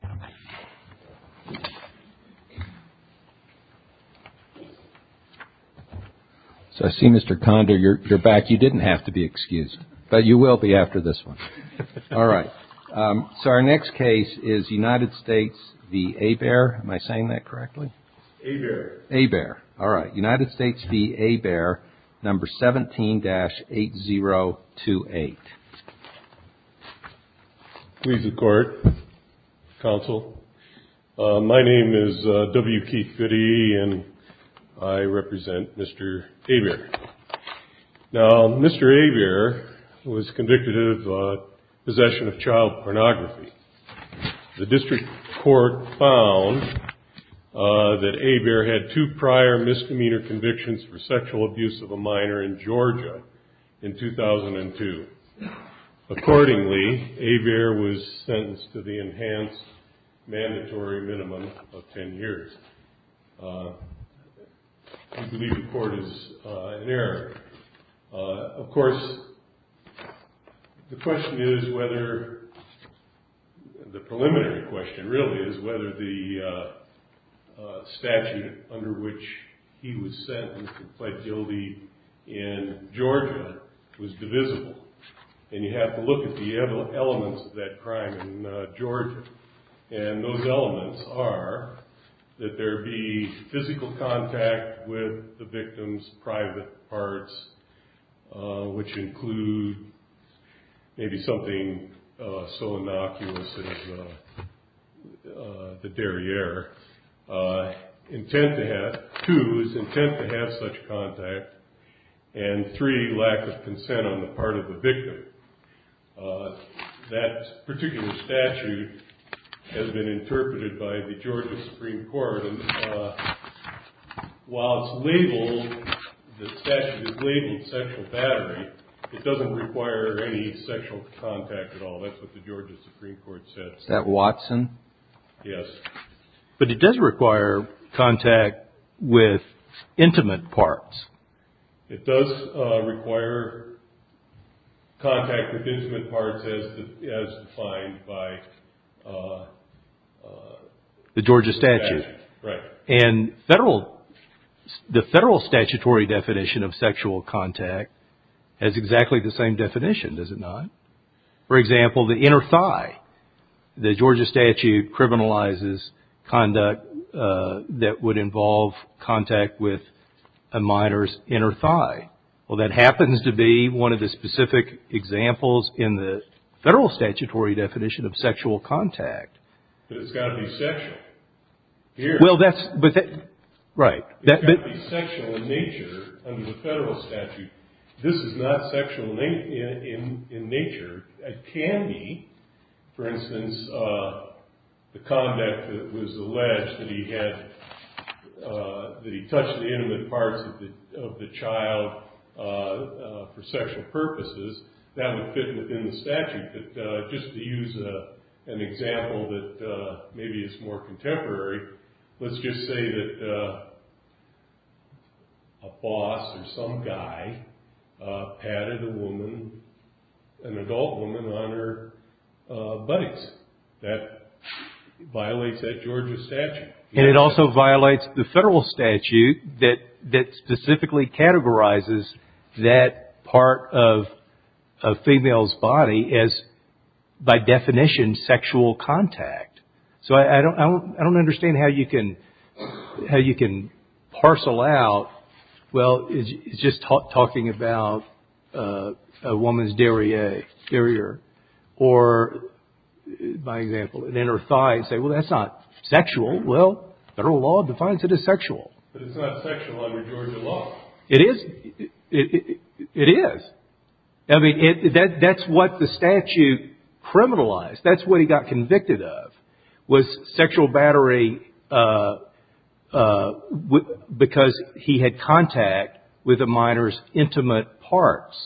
Hebert. All right. United States v. Hebert, number 17-8028. Please record, counsel. My name is W. Keith Fiddy, and I represent Mr. Hebert. Now, Mr. Hebert was convicted of possession of child pornography. The district court found that Hebert had two prior misdemeanor convictions for sexual abuse of a minor in Georgia in 2002. Accordingly, Hebert was sentenced to the enhanced mandatory minimum of 10 years. I believe the court is in error. Of course, the question is whether, the preliminary question really is whether the statute under which he was sentenced and pled guilty in Georgia was divisible. And you have to look at the elements of that crime in Georgia. And those elements are that there be physical contact with the victim's private parts, which include maybe something so innocuous as the derriere. Two, his intent to have such contact. And three, lack of consent on the part of the victim. That particular statute has been interpreted by the Georgia Supreme Court. While it's labeled, the statute is labeled sexual battery, it doesn't require any sexual contact at all. That's what the Georgia Supreme Court said. That Watson? Yes. But it does require contact with intimate parts. It does require contact with intimate parts as defined by the Georgia statute. Right. And the federal statutory definition of sexual contact has exactly the same definition, does it not? For example, the inner thigh. The Georgia statute criminalizes conduct that would involve contact with a minor's inner thigh. Well, that happens to be one of the specific examples in the federal statutory definition of sexual contact. But it's got to be sexual. Right. It's got to be sexual in nature under the federal statute. This is not sexual in nature. It can be, for instance, the conduct that was alleged that he touched the intimate parts of the child for sexual purposes. That would fit within the statute. But just to use an example that maybe is more contemporary, let's just say that a boss or some guy patted a woman, an adult woman, on her buttocks. That violates that Georgia statute. And it also violates the federal statute that specifically categorizes that part of a female's body as, by definition, sexual contact. So I don't understand how you can parcel out, well, it's just talking about a woman's derriere. Or, by example, an inner thigh and say, well, that's not sexual. Well, federal law defines it as sexual. But it's not sexual under Georgia law. It is. It is. I mean, that's what the statute criminalized. That's what he got convicted of was sexual battery because he had contact with a minor's intimate parts.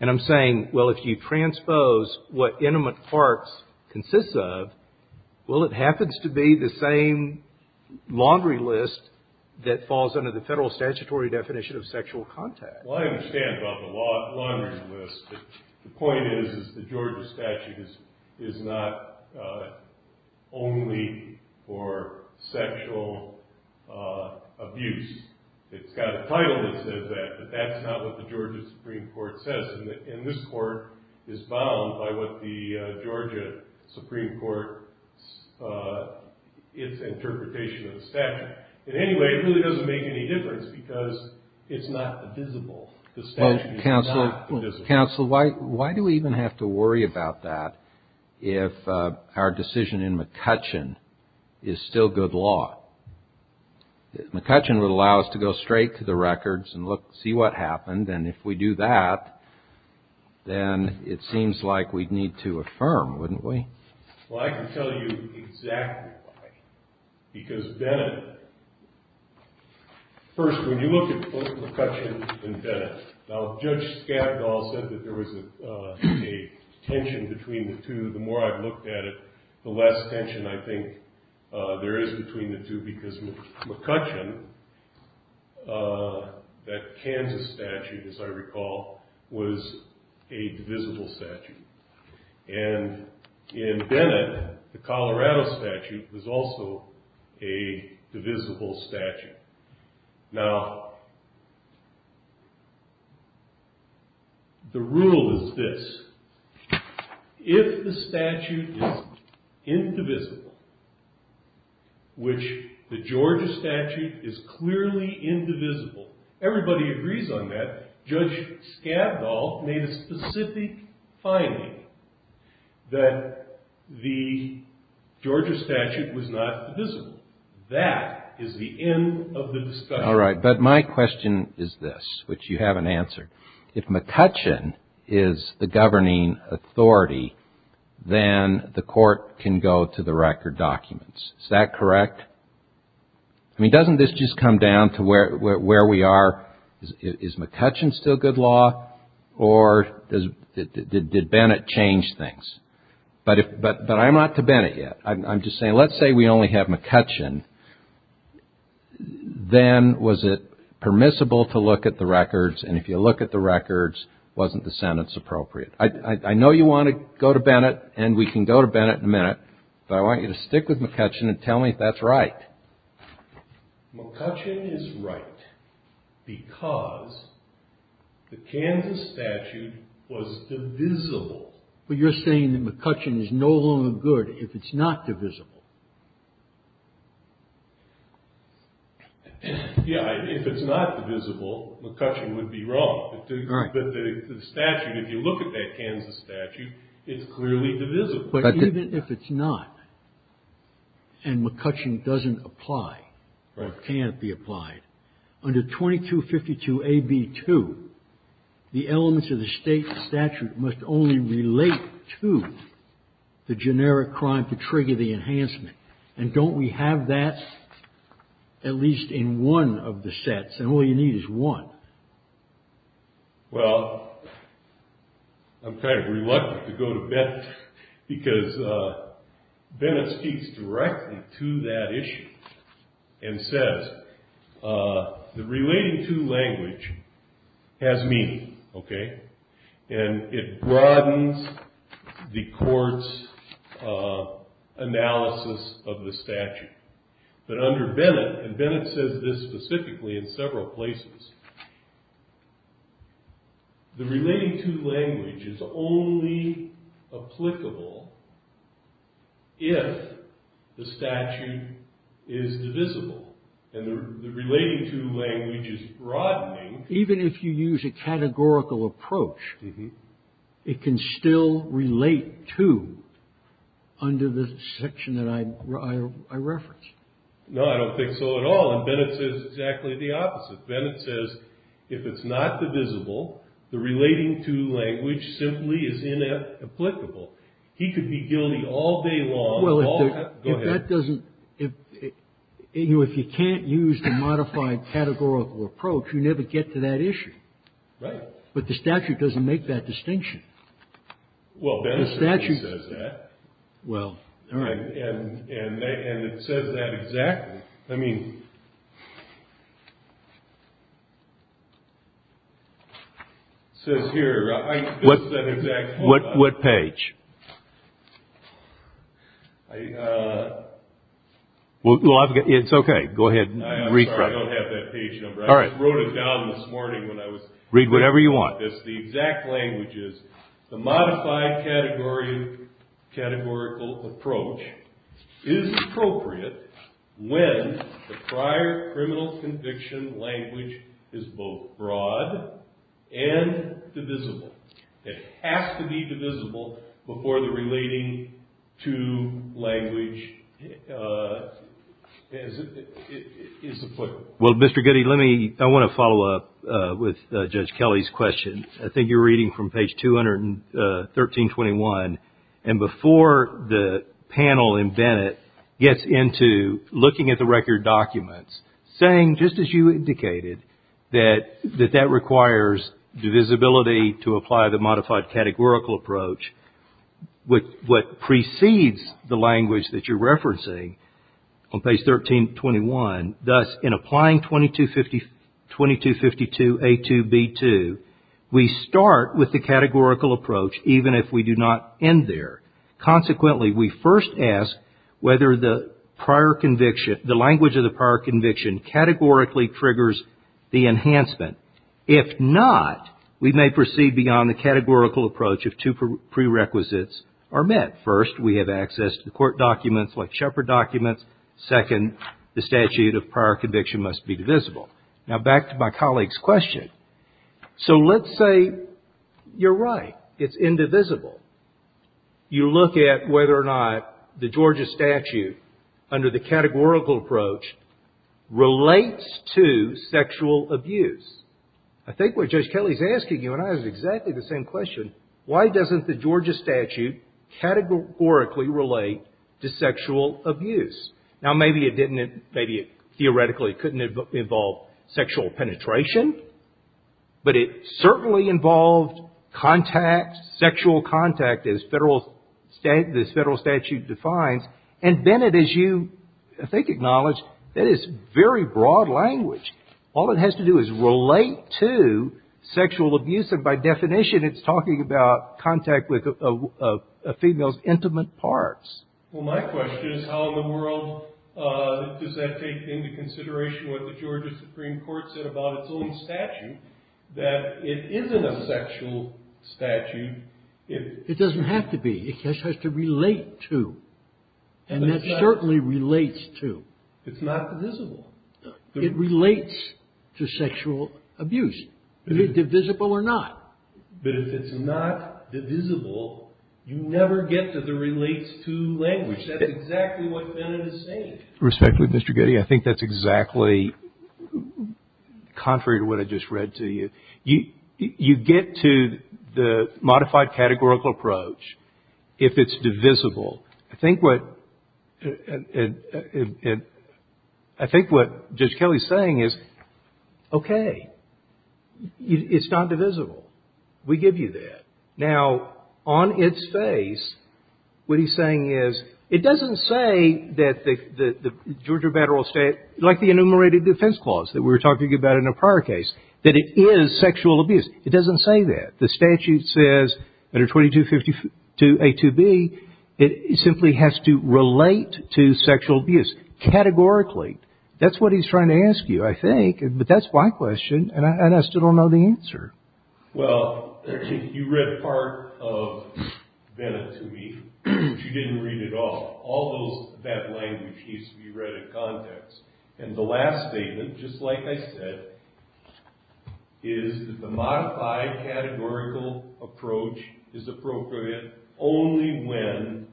And I'm saying, well, if you transpose what intimate parts consists of, well, it happens to be the same laundry list that falls under the federal statutory definition of sexual contact. Well, I understand about the laundry list. The point is the Georgia statute is not only for sexual abuse. It's got a title that says that, but that's not what the Georgia Supreme Court says. And this court is bound by what the Georgia Supreme Court, its interpretation of the statute. But anyway, it really doesn't make any difference because it's not divisible. The statute is not divisible. Counsel, why do we even have to worry about that if our decision in McCutcheon is still good law? McCutcheon would allow us to go straight to the records and look, see what happened. And if we do that, then it seems like we'd need to affirm, wouldn't we? Well, I can tell you exactly why. Because Bennett, first, when you look at both McCutcheon and Bennett, now Judge Scavdall said that there was a tension between the two. The more I've looked at it, the less tension I think there is between the two because McCutcheon, that Kansas statute, as I recall, was a divisible statute. And in Bennett, the Colorado statute was also a divisible statute. Now, the rule is this. If the statute is indivisible, which the Georgia statute is clearly indivisible. Everybody agrees on that. Judge Scavdall made a specific finding that the Georgia statute was not divisible. That is the end of the discussion. All right. But my question is this, which you haven't answered. If McCutcheon is the governing authority, then the court can go to the record documents. Is that correct? I mean, doesn't this just come down to where we are? Is McCutcheon still good law or did Bennett change things? But I'm not to Bennett yet. I'm just saying, let's say we only have McCutcheon, then was it permissible to look at the records? And if you look at the records, wasn't the sentence appropriate? I know you want to go to Bennett, and we can go to Bennett in a minute. But I want you to stick with McCutcheon and tell me if that's right. McCutcheon is right because the Kansas statute was divisible. But you're saying that McCutcheon is no longer good. If it's not divisible. Yeah, if it's not divisible, McCutcheon would be wrong. But the statute, if you look at that Kansas statute, it's clearly divisible. But even if it's not, and McCutcheon doesn't apply or can't be applied, under 2252AB2, the elements of the state statute must only relate to the generic crime to trigger the enhancement. And don't we have that at least in one of the sets? And all you need is one. Well, I'm kind of reluctant to go to Bennett because Bennett speaks directly to that issue and says the relating to language has meaning. And it broadens the court's analysis of the statute. But under Bennett, and Bennett says this specifically in several places, the relating to language is only applicable if the statute is divisible. And the relating to language is broadening. Even if you use a categorical approach, it can still relate to under the section that I referenced. No, I don't think so at all. And Bennett says exactly the opposite. Bennett says if it's not divisible, the relating to language simply is inapplicable. He could be guilty all day long. Go ahead. Well, if that doesn't, if you can't use the modified categorical approach, you never get to that issue. Right. But the statute doesn't make that distinction. Well, Bennett says that. Well, all right. And it says that exactly. I mean, it says here. What page? Well, it's okay. Go ahead and read. I'm sorry, I don't have that page number. I wrote it down this morning when I was. Read whatever you want. The modified categorical approach is appropriate when the prior criminal conviction language is both broad and divisible. It has to be divisible before the relating to language is applicable. Well, Mr. Goody, let me, I want to follow up with Judge Kelly's question. I think you're reading from page 213.21. And before the panel in Bennett gets into looking at the record documents, saying, just as you indicated, that that requires divisibility to apply the modified categorical approach, what precedes the language that you're referencing on page 1321, thus, in applying 2252A2B2, we start with the categorical approach even if we do not end there. Consequently, we first ask whether the prior conviction, the language of the prior conviction, categorically triggers the enhancement. If not, we may proceed beyond the categorical approach if two prerequisites are met. First, we have access to the court documents like Shepard documents. Second, the statute of prior conviction must be divisible. Now, back to my colleague's question. So, let's say you're right. It's indivisible. You look at whether or not the Georgia statute, under the categorical approach, relates to sexual abuse. I think what Judge Kelly's asking you, and I have exactly the same question, why doesn't the Georgia statute categorically relate to sexual abuse? Now, maybe it didn't, maybe it theoretically couldn't involve sexual penetration, but it certainly involved contact, sexual contact, as this federal statute defines, and Bennett, as you, I think, acknowledge, that is very broad language. All it has to do is relate to sexual abuse, and by definition, it's talking about contact with a female's intimate parts. Well, my question is how in the world does that take into consideration what the Georgia Supreme Court said about its own statute, that it isn't a sexual statute. It doesn't have to be. It just has to relate to, and that certainly relates to. It's not divisible. It relates to sexual abuse, divisible or not. But if it's not divisible, you never get to the relates to language. That's exactly what Bennett is saying. Respectfully, Mr. Goody, I think that's exactly contrary to what I just read to you. You get to the modified categorical approach if it's divisible. I think what Judge Kelly is saying is, okay, it's not divisible. We give you that. Now, on its face, what he's saying is, it doesn't say that the Georgia Federal State, like the enumerated defense clause that we were talking about in a prior case, that it is sexual abuse. It doesn't say that. The statute says under 2252A2B, it simply has to relate to sexual abuse, categorically. That's what he's trying to ask you, I think. But that's my question, and I still don't know the answer. Well, you read part of Bennett to me, but you didn't read it all. And the last statement, just like I said, is that the modified categorical approach is appropriate only when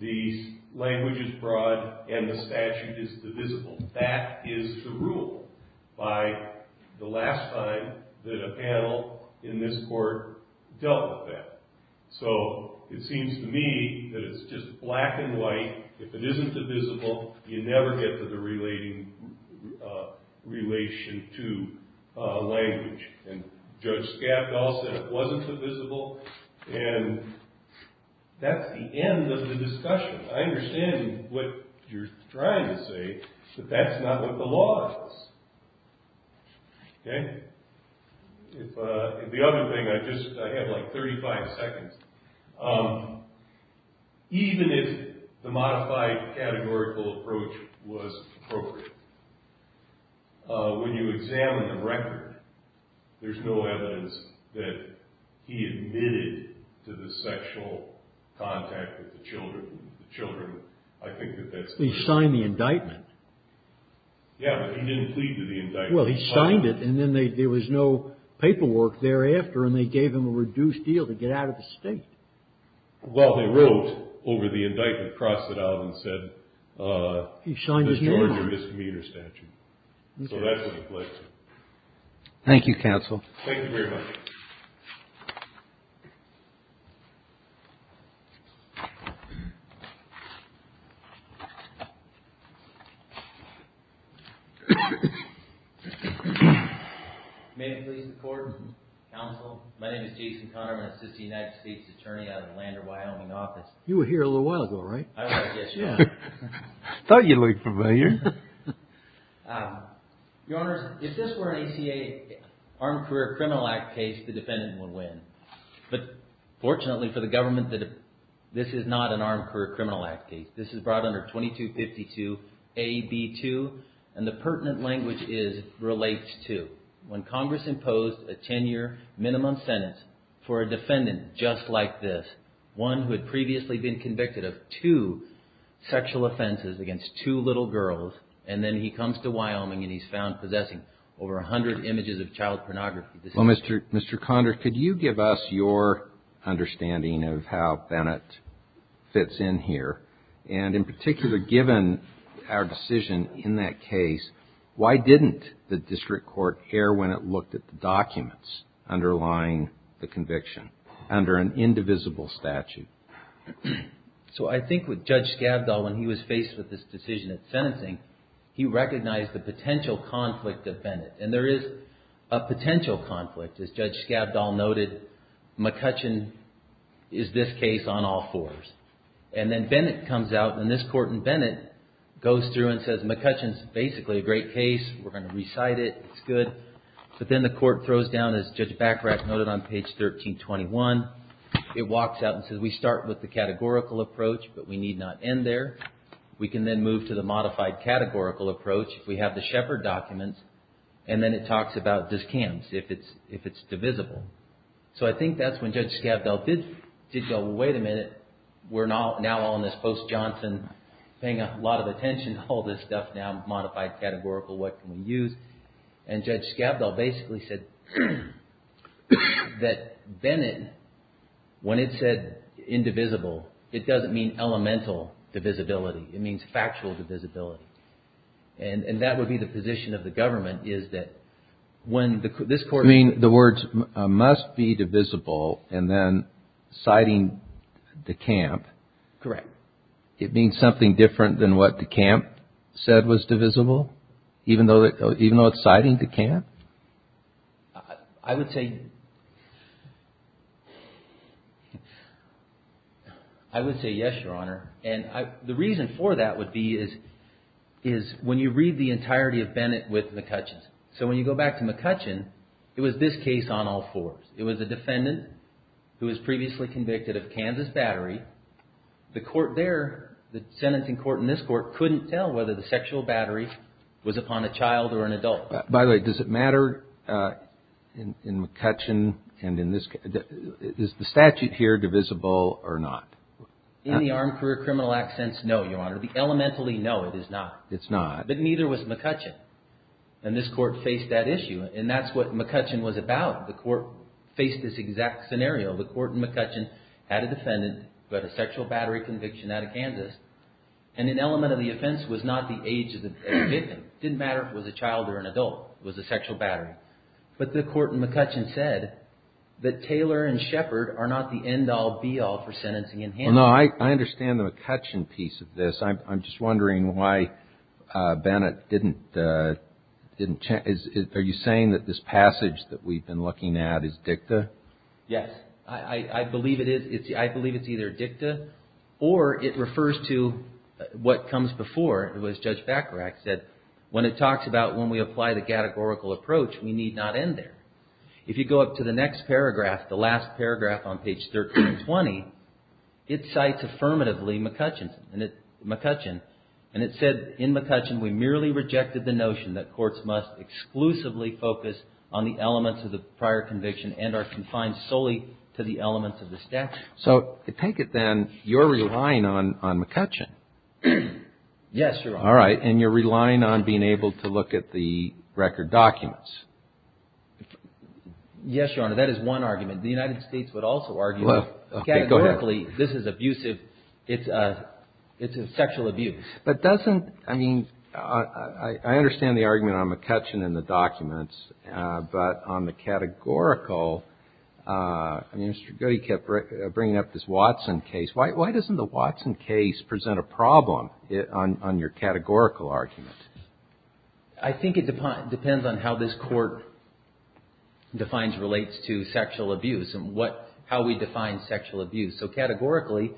the language is broad and the statute is divisible. That is the rule by the last time that a panel in this court dealt with that. So it seems to me that it's just black and white. If it isn't divisible, you never get to the relation to language. And Judge Scaff also said it wasn't divisible. And that's the end of the discussion. I understand what you're trying to say, but that's not what the law is. OK? The other thing, I have like 35 seconds. Even if the modified categorical approach was appropriate, when you examine the record, there's no evidence that he admitted to the sexual contact with the children. The children, I think that that's... He signed the indictment. Yeah, but he didn't plead to the indictment. Well, he signed it, and then there was no paperwork thereafter, and they gave him a reduced deal to get out of the state. Well, they wrote over the indictment, crossed it out, and said... He signed his name on it. ...the Georgia misdemeanor statute. So that's what it was. Thank you, counsel. Thank you very much. May I please record, counsel? My name is Jason Conard. I'm an assistant United States attorney out of the Lander, Wyoming office. You were here a little while ago, right? I was, yes, Your Honor. I thought you looked familiar. Your Honor, if this were an ACA Armed Career Criminal Act case, the defendant would win. But fortunately for the government, this is not an Armed Career Criminal Act case. This is brought under 2252 AB2, and the pertinent language is, relates to, when Congress imposed a 10-year minimum sentence for a defendant just like this, one who had previously been convicted of two sexual offenses against two little girls, and then he comes to Wyoming and he's found possessing over 100 images of child pornography. Well, Mr. Conard, could you give us your understanding of how Bennett fits in here? And in particular, given our decision in that case, why didn't the district court err when it looked at the documents underlying the conviction, under an indivisible statute? So I think with Judge Skavdal, when he was faced with this decision at sentencing, he recognized the potential conflict of Bennett. And there is a potential conflict. As Judge Skavdal noted, McCutcheon is this case on all fours. And then Bennett comes out, and this court in Bennett goes through and says, McCutcheon's basically a great case. We're going to recite it. It's good. But then the court throws down, as Judge Bachrach noted on page 1321, it walks out and says, we start with the categorical approach, but we need not end there. We can then move to the modified categorical approach. We have the Shepard documents, and then it talks about discounts, if it's divisible. So I think that's when Judge Skavdal did go, wait a minute. We're now on this post-Johnson, paying a lot of attention to all this stuff, now modified categorical, what can we use? And Judge Skavdal basically said that Bennett, when it said indivisible, it doesn't mean elemental divisibility. It means factual divisibility. And that would be the position of the government is that when this court- You mean the words must be divisible and then citing DeCamp. Correct. It means something different than what DeCamp said was divisible, even though it's citing DeCamp? I would say yes, Your Honor. And the reason for that would be is when you read the entirety of Bennett with McCutcheon. So when you go back to McCutcheon, it was this case on all fours. It was a defendant who was previously convicted of Kansas battery. The court there, the sentencing court in this court, couldn't tell whether the sexual battery was upon a child or an adult. By the way, does it matter in McCutcheon and in this case? Is the statute here divisible or not? In the Armed Career Criminal Act sense, no, Your Honor. The elementally, no, it is not. It's not. But neither was McCutcheon. And this court faced that issue. And that's what McCutcheon was about. The court faced this exact scenario. The court in McCutcheon had a defendant who had a sexual battery conviction out of Kansas. And an element of the offense was not the age of the victim. It didn't matter if it was a child or an adult. It was a sexual battery. But the court in McCutcheon said that Taylor and Shepard are not the end-all, be-all for sentencing in hand. Well, no, I understand the McCutcheon piece of this. I'm just wondering why Bennett didn't change. Are you saying that this passage that we've been looking at is dicta? Yes. I believe it is. I believe it's either dicta or it refers to what comes before. I think it's either dicta or it was Judge Bacharach said when it talks about when we apply the categorical approach, we need not end there. If you go up to the next paragraph, the last paragraph on page 1320, it cites affirmatively McCutcheon. And it said, in McCutcheon, we merely rejected the notion that courts must exclusively focus on the elements of the prior conviction and are confined solely to the elements of the statute. So to take it then, you're relying on McCutcheon. Yes, Your Honor. All right. And you're relying on being able to look at the record documents. Yes, Your Honor. That is one argument. The United States would also argue that categorically this is abusive. It's a sexual abuse. But doesn't, I mean, I understand the argument on McCutcheon and the documents. But on the categorical, I mean, Mr. Goody kept bringing up this Watson case. Why doesn't the Watson case present a problem on your categorical argument? I think it depends on how this court defines, relates to sexual abuse and what, how we define sexual abuse. So categorically,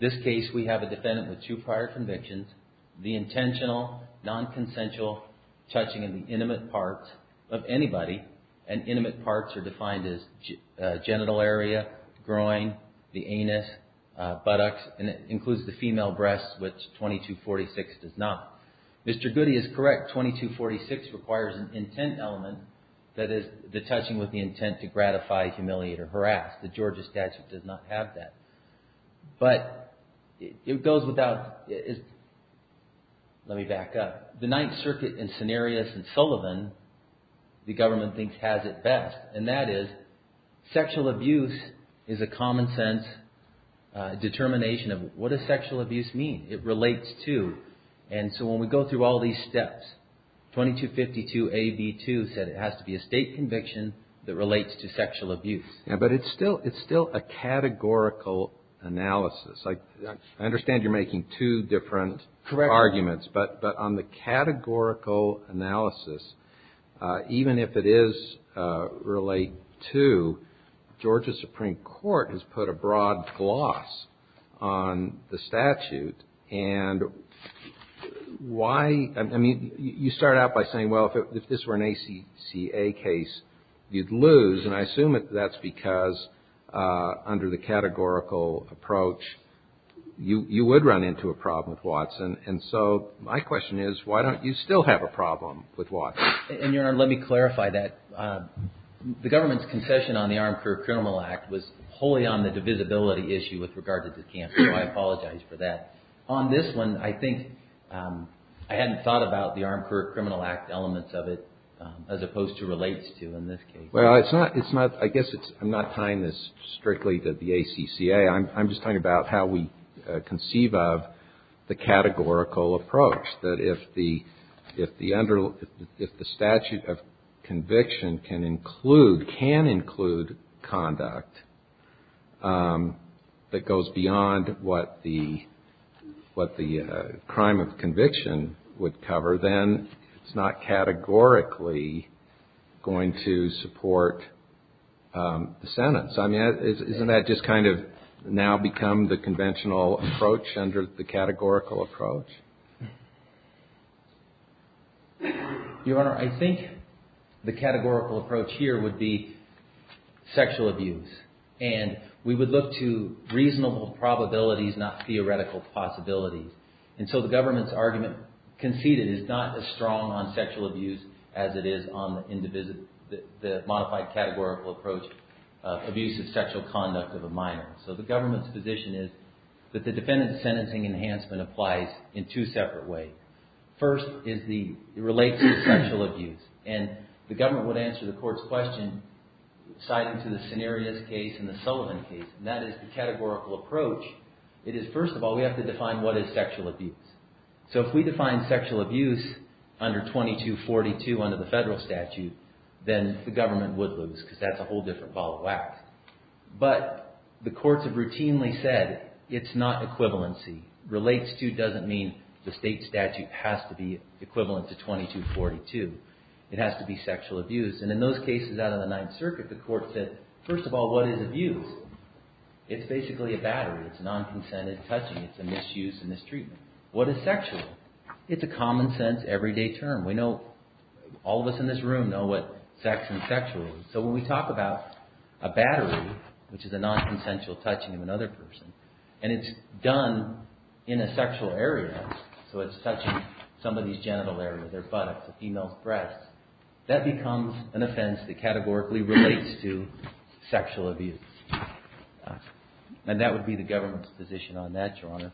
this case, we have a defendant with two prior convictions, the intentional, nonconsensual touching of the intimate parts of anybody. And intimate parts are defined as genital area, groin, the anus, buttocks. And it includes the female breasts, which 2246 does not. Mr. Goody is correct. 2246 requires an intent element, that is, the touching with the intent to gratify, humiliate, or harass. The Georgia statute does not have that. But it goes without, let me back up. The Ninth Circuit in Cenarius and Sullivan, the government thinks, has it best. And that is, sexual abuse is a common sense determination of what does sexual abuse mean? It relates to, and so when we go through all these steps, 2252 AB2 said it has to be a state conviction that relates to sexual abuse. But it's still a categorical analysis. I understand you're making two different arguments. Correct. But on the categorical analysis, even if it is relate to, Georgia Supreme Court has put a broad gloss on the statute. And why, I mean, you start out by saying, well, if this were an ACCA case, you'd lose. And I assume that that's because under the categorical approach, you would run into a problem with Watson. And so my question is, why don't you still have a problem with Watson? And, Your Honor, let me clarify that. The government's concession on the Armed Career Criminal Act was wholly on the divisibility issue with regard to this case. So I apologize for that. On this one, I think I hadn't thought about the Armed Career Criminal Act elements of it as opposed to relates to in this case. Well, it's not, I guess I'm not tying this strictly to the ACCA. I'm just talking about how we conceive of the categorical approach. That if the statute of conviction can include conduct that goes beyond what the crime of conviction would cover, then it's not categorically going to support the sentence. I mean, isn't that just kind of now become the conventional approach under the categorical approach? Your Honor, I think the categorical approach here would be sexual abuse. And we would look to reasonable probabilities, not theoretical possibilities. And so the government's argument conceded is not as strong on sexual abuse as it is on the modified categorical approach of abusive sexual conduct of a minor. So the government's position is that the defendant's sentencing enhancement applies in two separate ways. First, it relates to sexual abuse. And the government would answer the court's question, citing to the Cenarius case and the Sullivan case, and that is the categorical approach. It is, first of all, we have to define what is sexual abuse. So if we define sexual abuse under 2242 under the federal statute, then the government would lose because that's a whole different ball of wax. But the courts have routinely said it's not equivalency. Relates to doesn't mean the state statute has to be equivalent to 2242. It has to be sexual abuse. And in those cases out of the Ninth Circuit, the court said, first of all, what is abuse? It's basically a battery. It's non-consented touching. It's a misuse and mistreatment. What is sexual? It's a common sense, everyday term. We know, all of us in this room know what sex and sexual is. So when we talk about a battery, which is a non-consensual touching of another person, and it's done in a sexual area, so it's touching somebody's genital area, their buttocks, a female's breasts, that becomes an offense that categorically relates to sexual abuse. And that would be the government's position on that, Your Honor.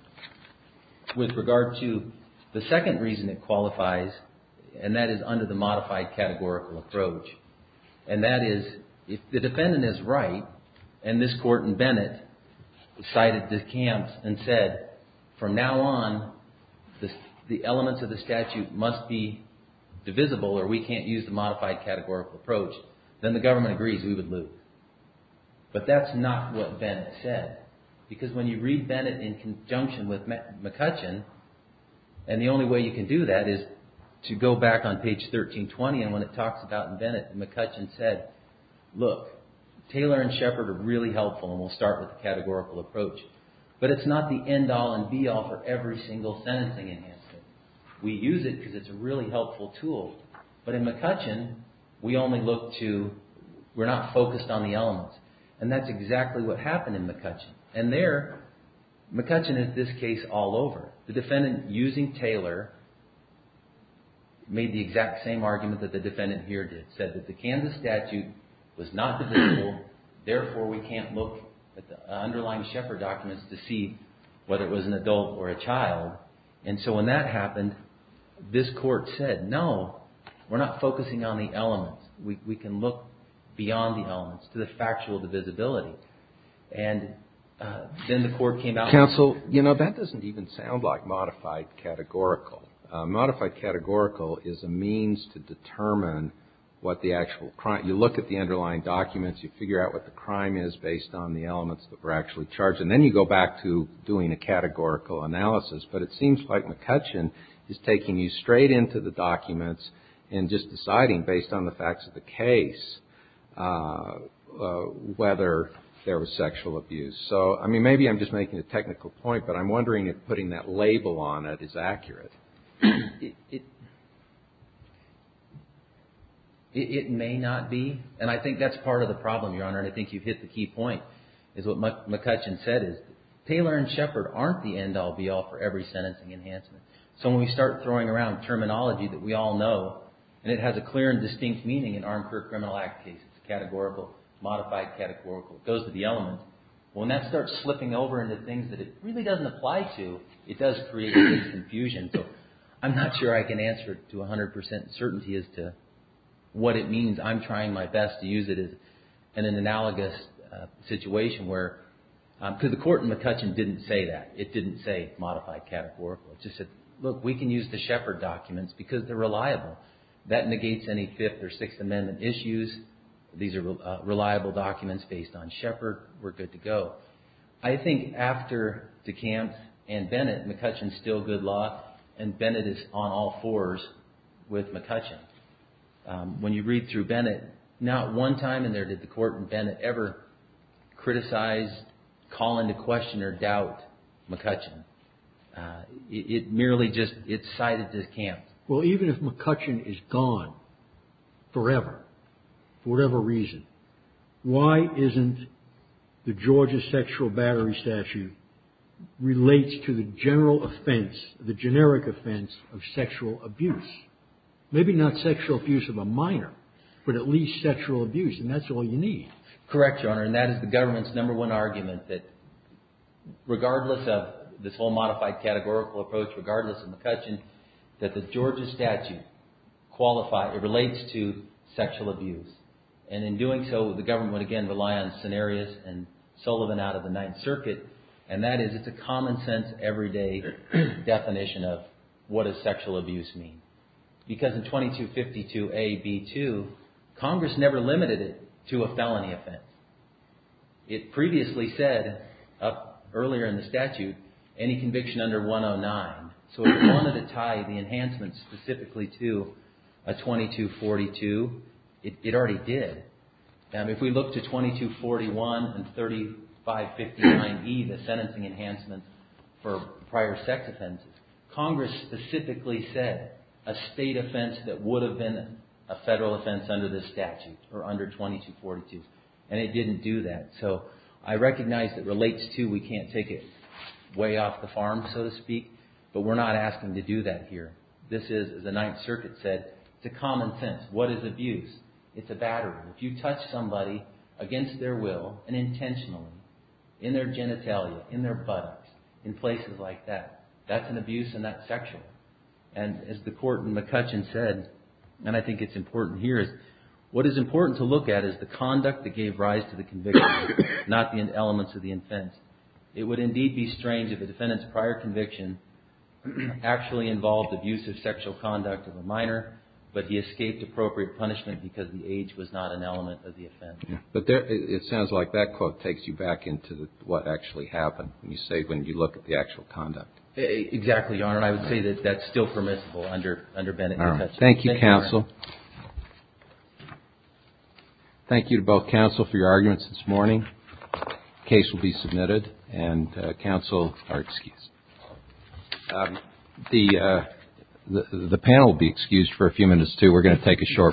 With regard to the second reason it qualifies, and that is under the modified categorical approach. And that is, if the defendant is right, and this court in Bennett cited the camps and said, from now on, the elements of the statute must be divisible or we can't use the modified categorical approach, then the government agrees we would lose. But that's not what Bennett said. Because when you read Bennett in conjunction with McCutcheon, and the only way you can do that is to go back on page 1320, and when it talks about Bennett, McCutcheon said, look, Taylor and Shepard are really helpful, and we'll start with the categorical approach. But it's not the end-all and be-all for every single sentencing enhancement. We use it because it's a really helpful tool. But in McCutcheon, we only look to, we're not focused on the elements. And that's exactly what happened in McCutcheon. And there, McCutcheon is this case all over. The defendant, using Taylor, made the exact same argument that the defendant here did. Said that the Kansas statute was not divisible, therefore we can't look at the underlying Shepard documents to see whether it was an adult or a child. And so when that happened, this Court said, no, we're not focusing on the elements. We can look beyond the elements to the factual divisibility. And then the Court came out and said. Counsel, you know, that doesn't even sound like modified categorical. Modified categorical is a means to determine what the actual crime, you look at the underlying documents, you figure out what the crime is based on the elements that were actually charged. And then you go back to doing a categorical analysis. But it seems like McCutcheon is taking you straight into the documents and just deciding, based on the facts of the case, whether there was sexual abuse. So, I mean, maybe I'm just making a technical point, but I'm wondering if putting that label on it is accurate. It may not be. And I think that's part of the problem, Your Honor. And I think you've hit the key point, is what McCutcheon said is, Taylor and Shepard aren't the end-all, be-all for every sentencing enhancement. So when we start throwing around terminology that we all know, and it has a clear and distinct meaning in Armed Career Criminal Act cases, categorical, modified categorical, it goes to the elements. When that starts slipping over into things that it really doesn't apply to, it does create confusion. So I'm not sure I can answer it to 100 percent certainty as to what it means. I'm trying my best to use it in an analogous situation where, because the court in McCutcheon didn't say that. It didn't say modified categorical. It just said, look, we can use the Shepard documents because they're reliable. That negates any Fifth or Sixth Amendment issues. These are reliable documents based on Shepard. We're good to go. I think after DeKalb and Bennett, McCutcheon's still good luck, and Bennett is on all fours with McCutcheon. When you read through Bennett, not one time in there did the court in Bennett ever criticize, call into question, or doubt McCutcheon. It merely just, it's cited as camp. Well, even if McCutcheon is gone forever, for whatever reason, why isn't the Georgia sexual battery statute relates to the general offense, the generic offense of sexual abuse? Maybe not sexual abuse of a minor, but at least sexual abuse, and that's all you need. Correct, Your Honor, and that is the government's number one argument that, regardless of this whole modified categorical approach, regardless of McCutcheon, that the Georgia statute relates to sexual abuse. In doing so, the government would again rely on scenarios and Sullivan out of the Ninth Circuit, and that is, it's a common sense, everyday definition of what does sexual abuse mean. Because in 2252AB2, Congress never limited it to a felony offense. It previously said, earlier in the statute, any conviction under 109. So if you wanted to tie the enhancement specifically to a 2242, it already did. If we look to 2241 and 3559E, the sentencing enhancement for prior sex offenses, Congress specifically said a state offense that would have been a federal offense under this statute, or under 2242, and it didn't do that. So I recognize it relates to, we can't take it way off the farm, so to speak, but we're not asking to do that here. This is, as the Ninth Circuit said, it's a common sense. What is abuse? It's a battery. If you touch somebody against their will and intentionally, in their genitalia, in their buttocks, in places like that, that's an abuse and that's sexual. And as the court in McCutcheon said, and I think it's important here, what is important to look at is the conduct that gave rise to the conviction, not the elements of the offense. It would indeed be strange if a defendant's prior conviction actually involved abusive sexual conduct of a minor, but he escaped appropriate punishment because the age was not an element of the offense. But it sounds like that quote takes you back into what actually happened when you say, when you look at the actual conduct. Exactly, Your Honor. I would say that that's still permissible under Bennett v. McCutcheon. Thank you, counsel. Thank you to both counsel for your arguments this morning. The case will be submitted and counsel are excused. The panel will be excused for a few minutes, too. We're going to take a short break.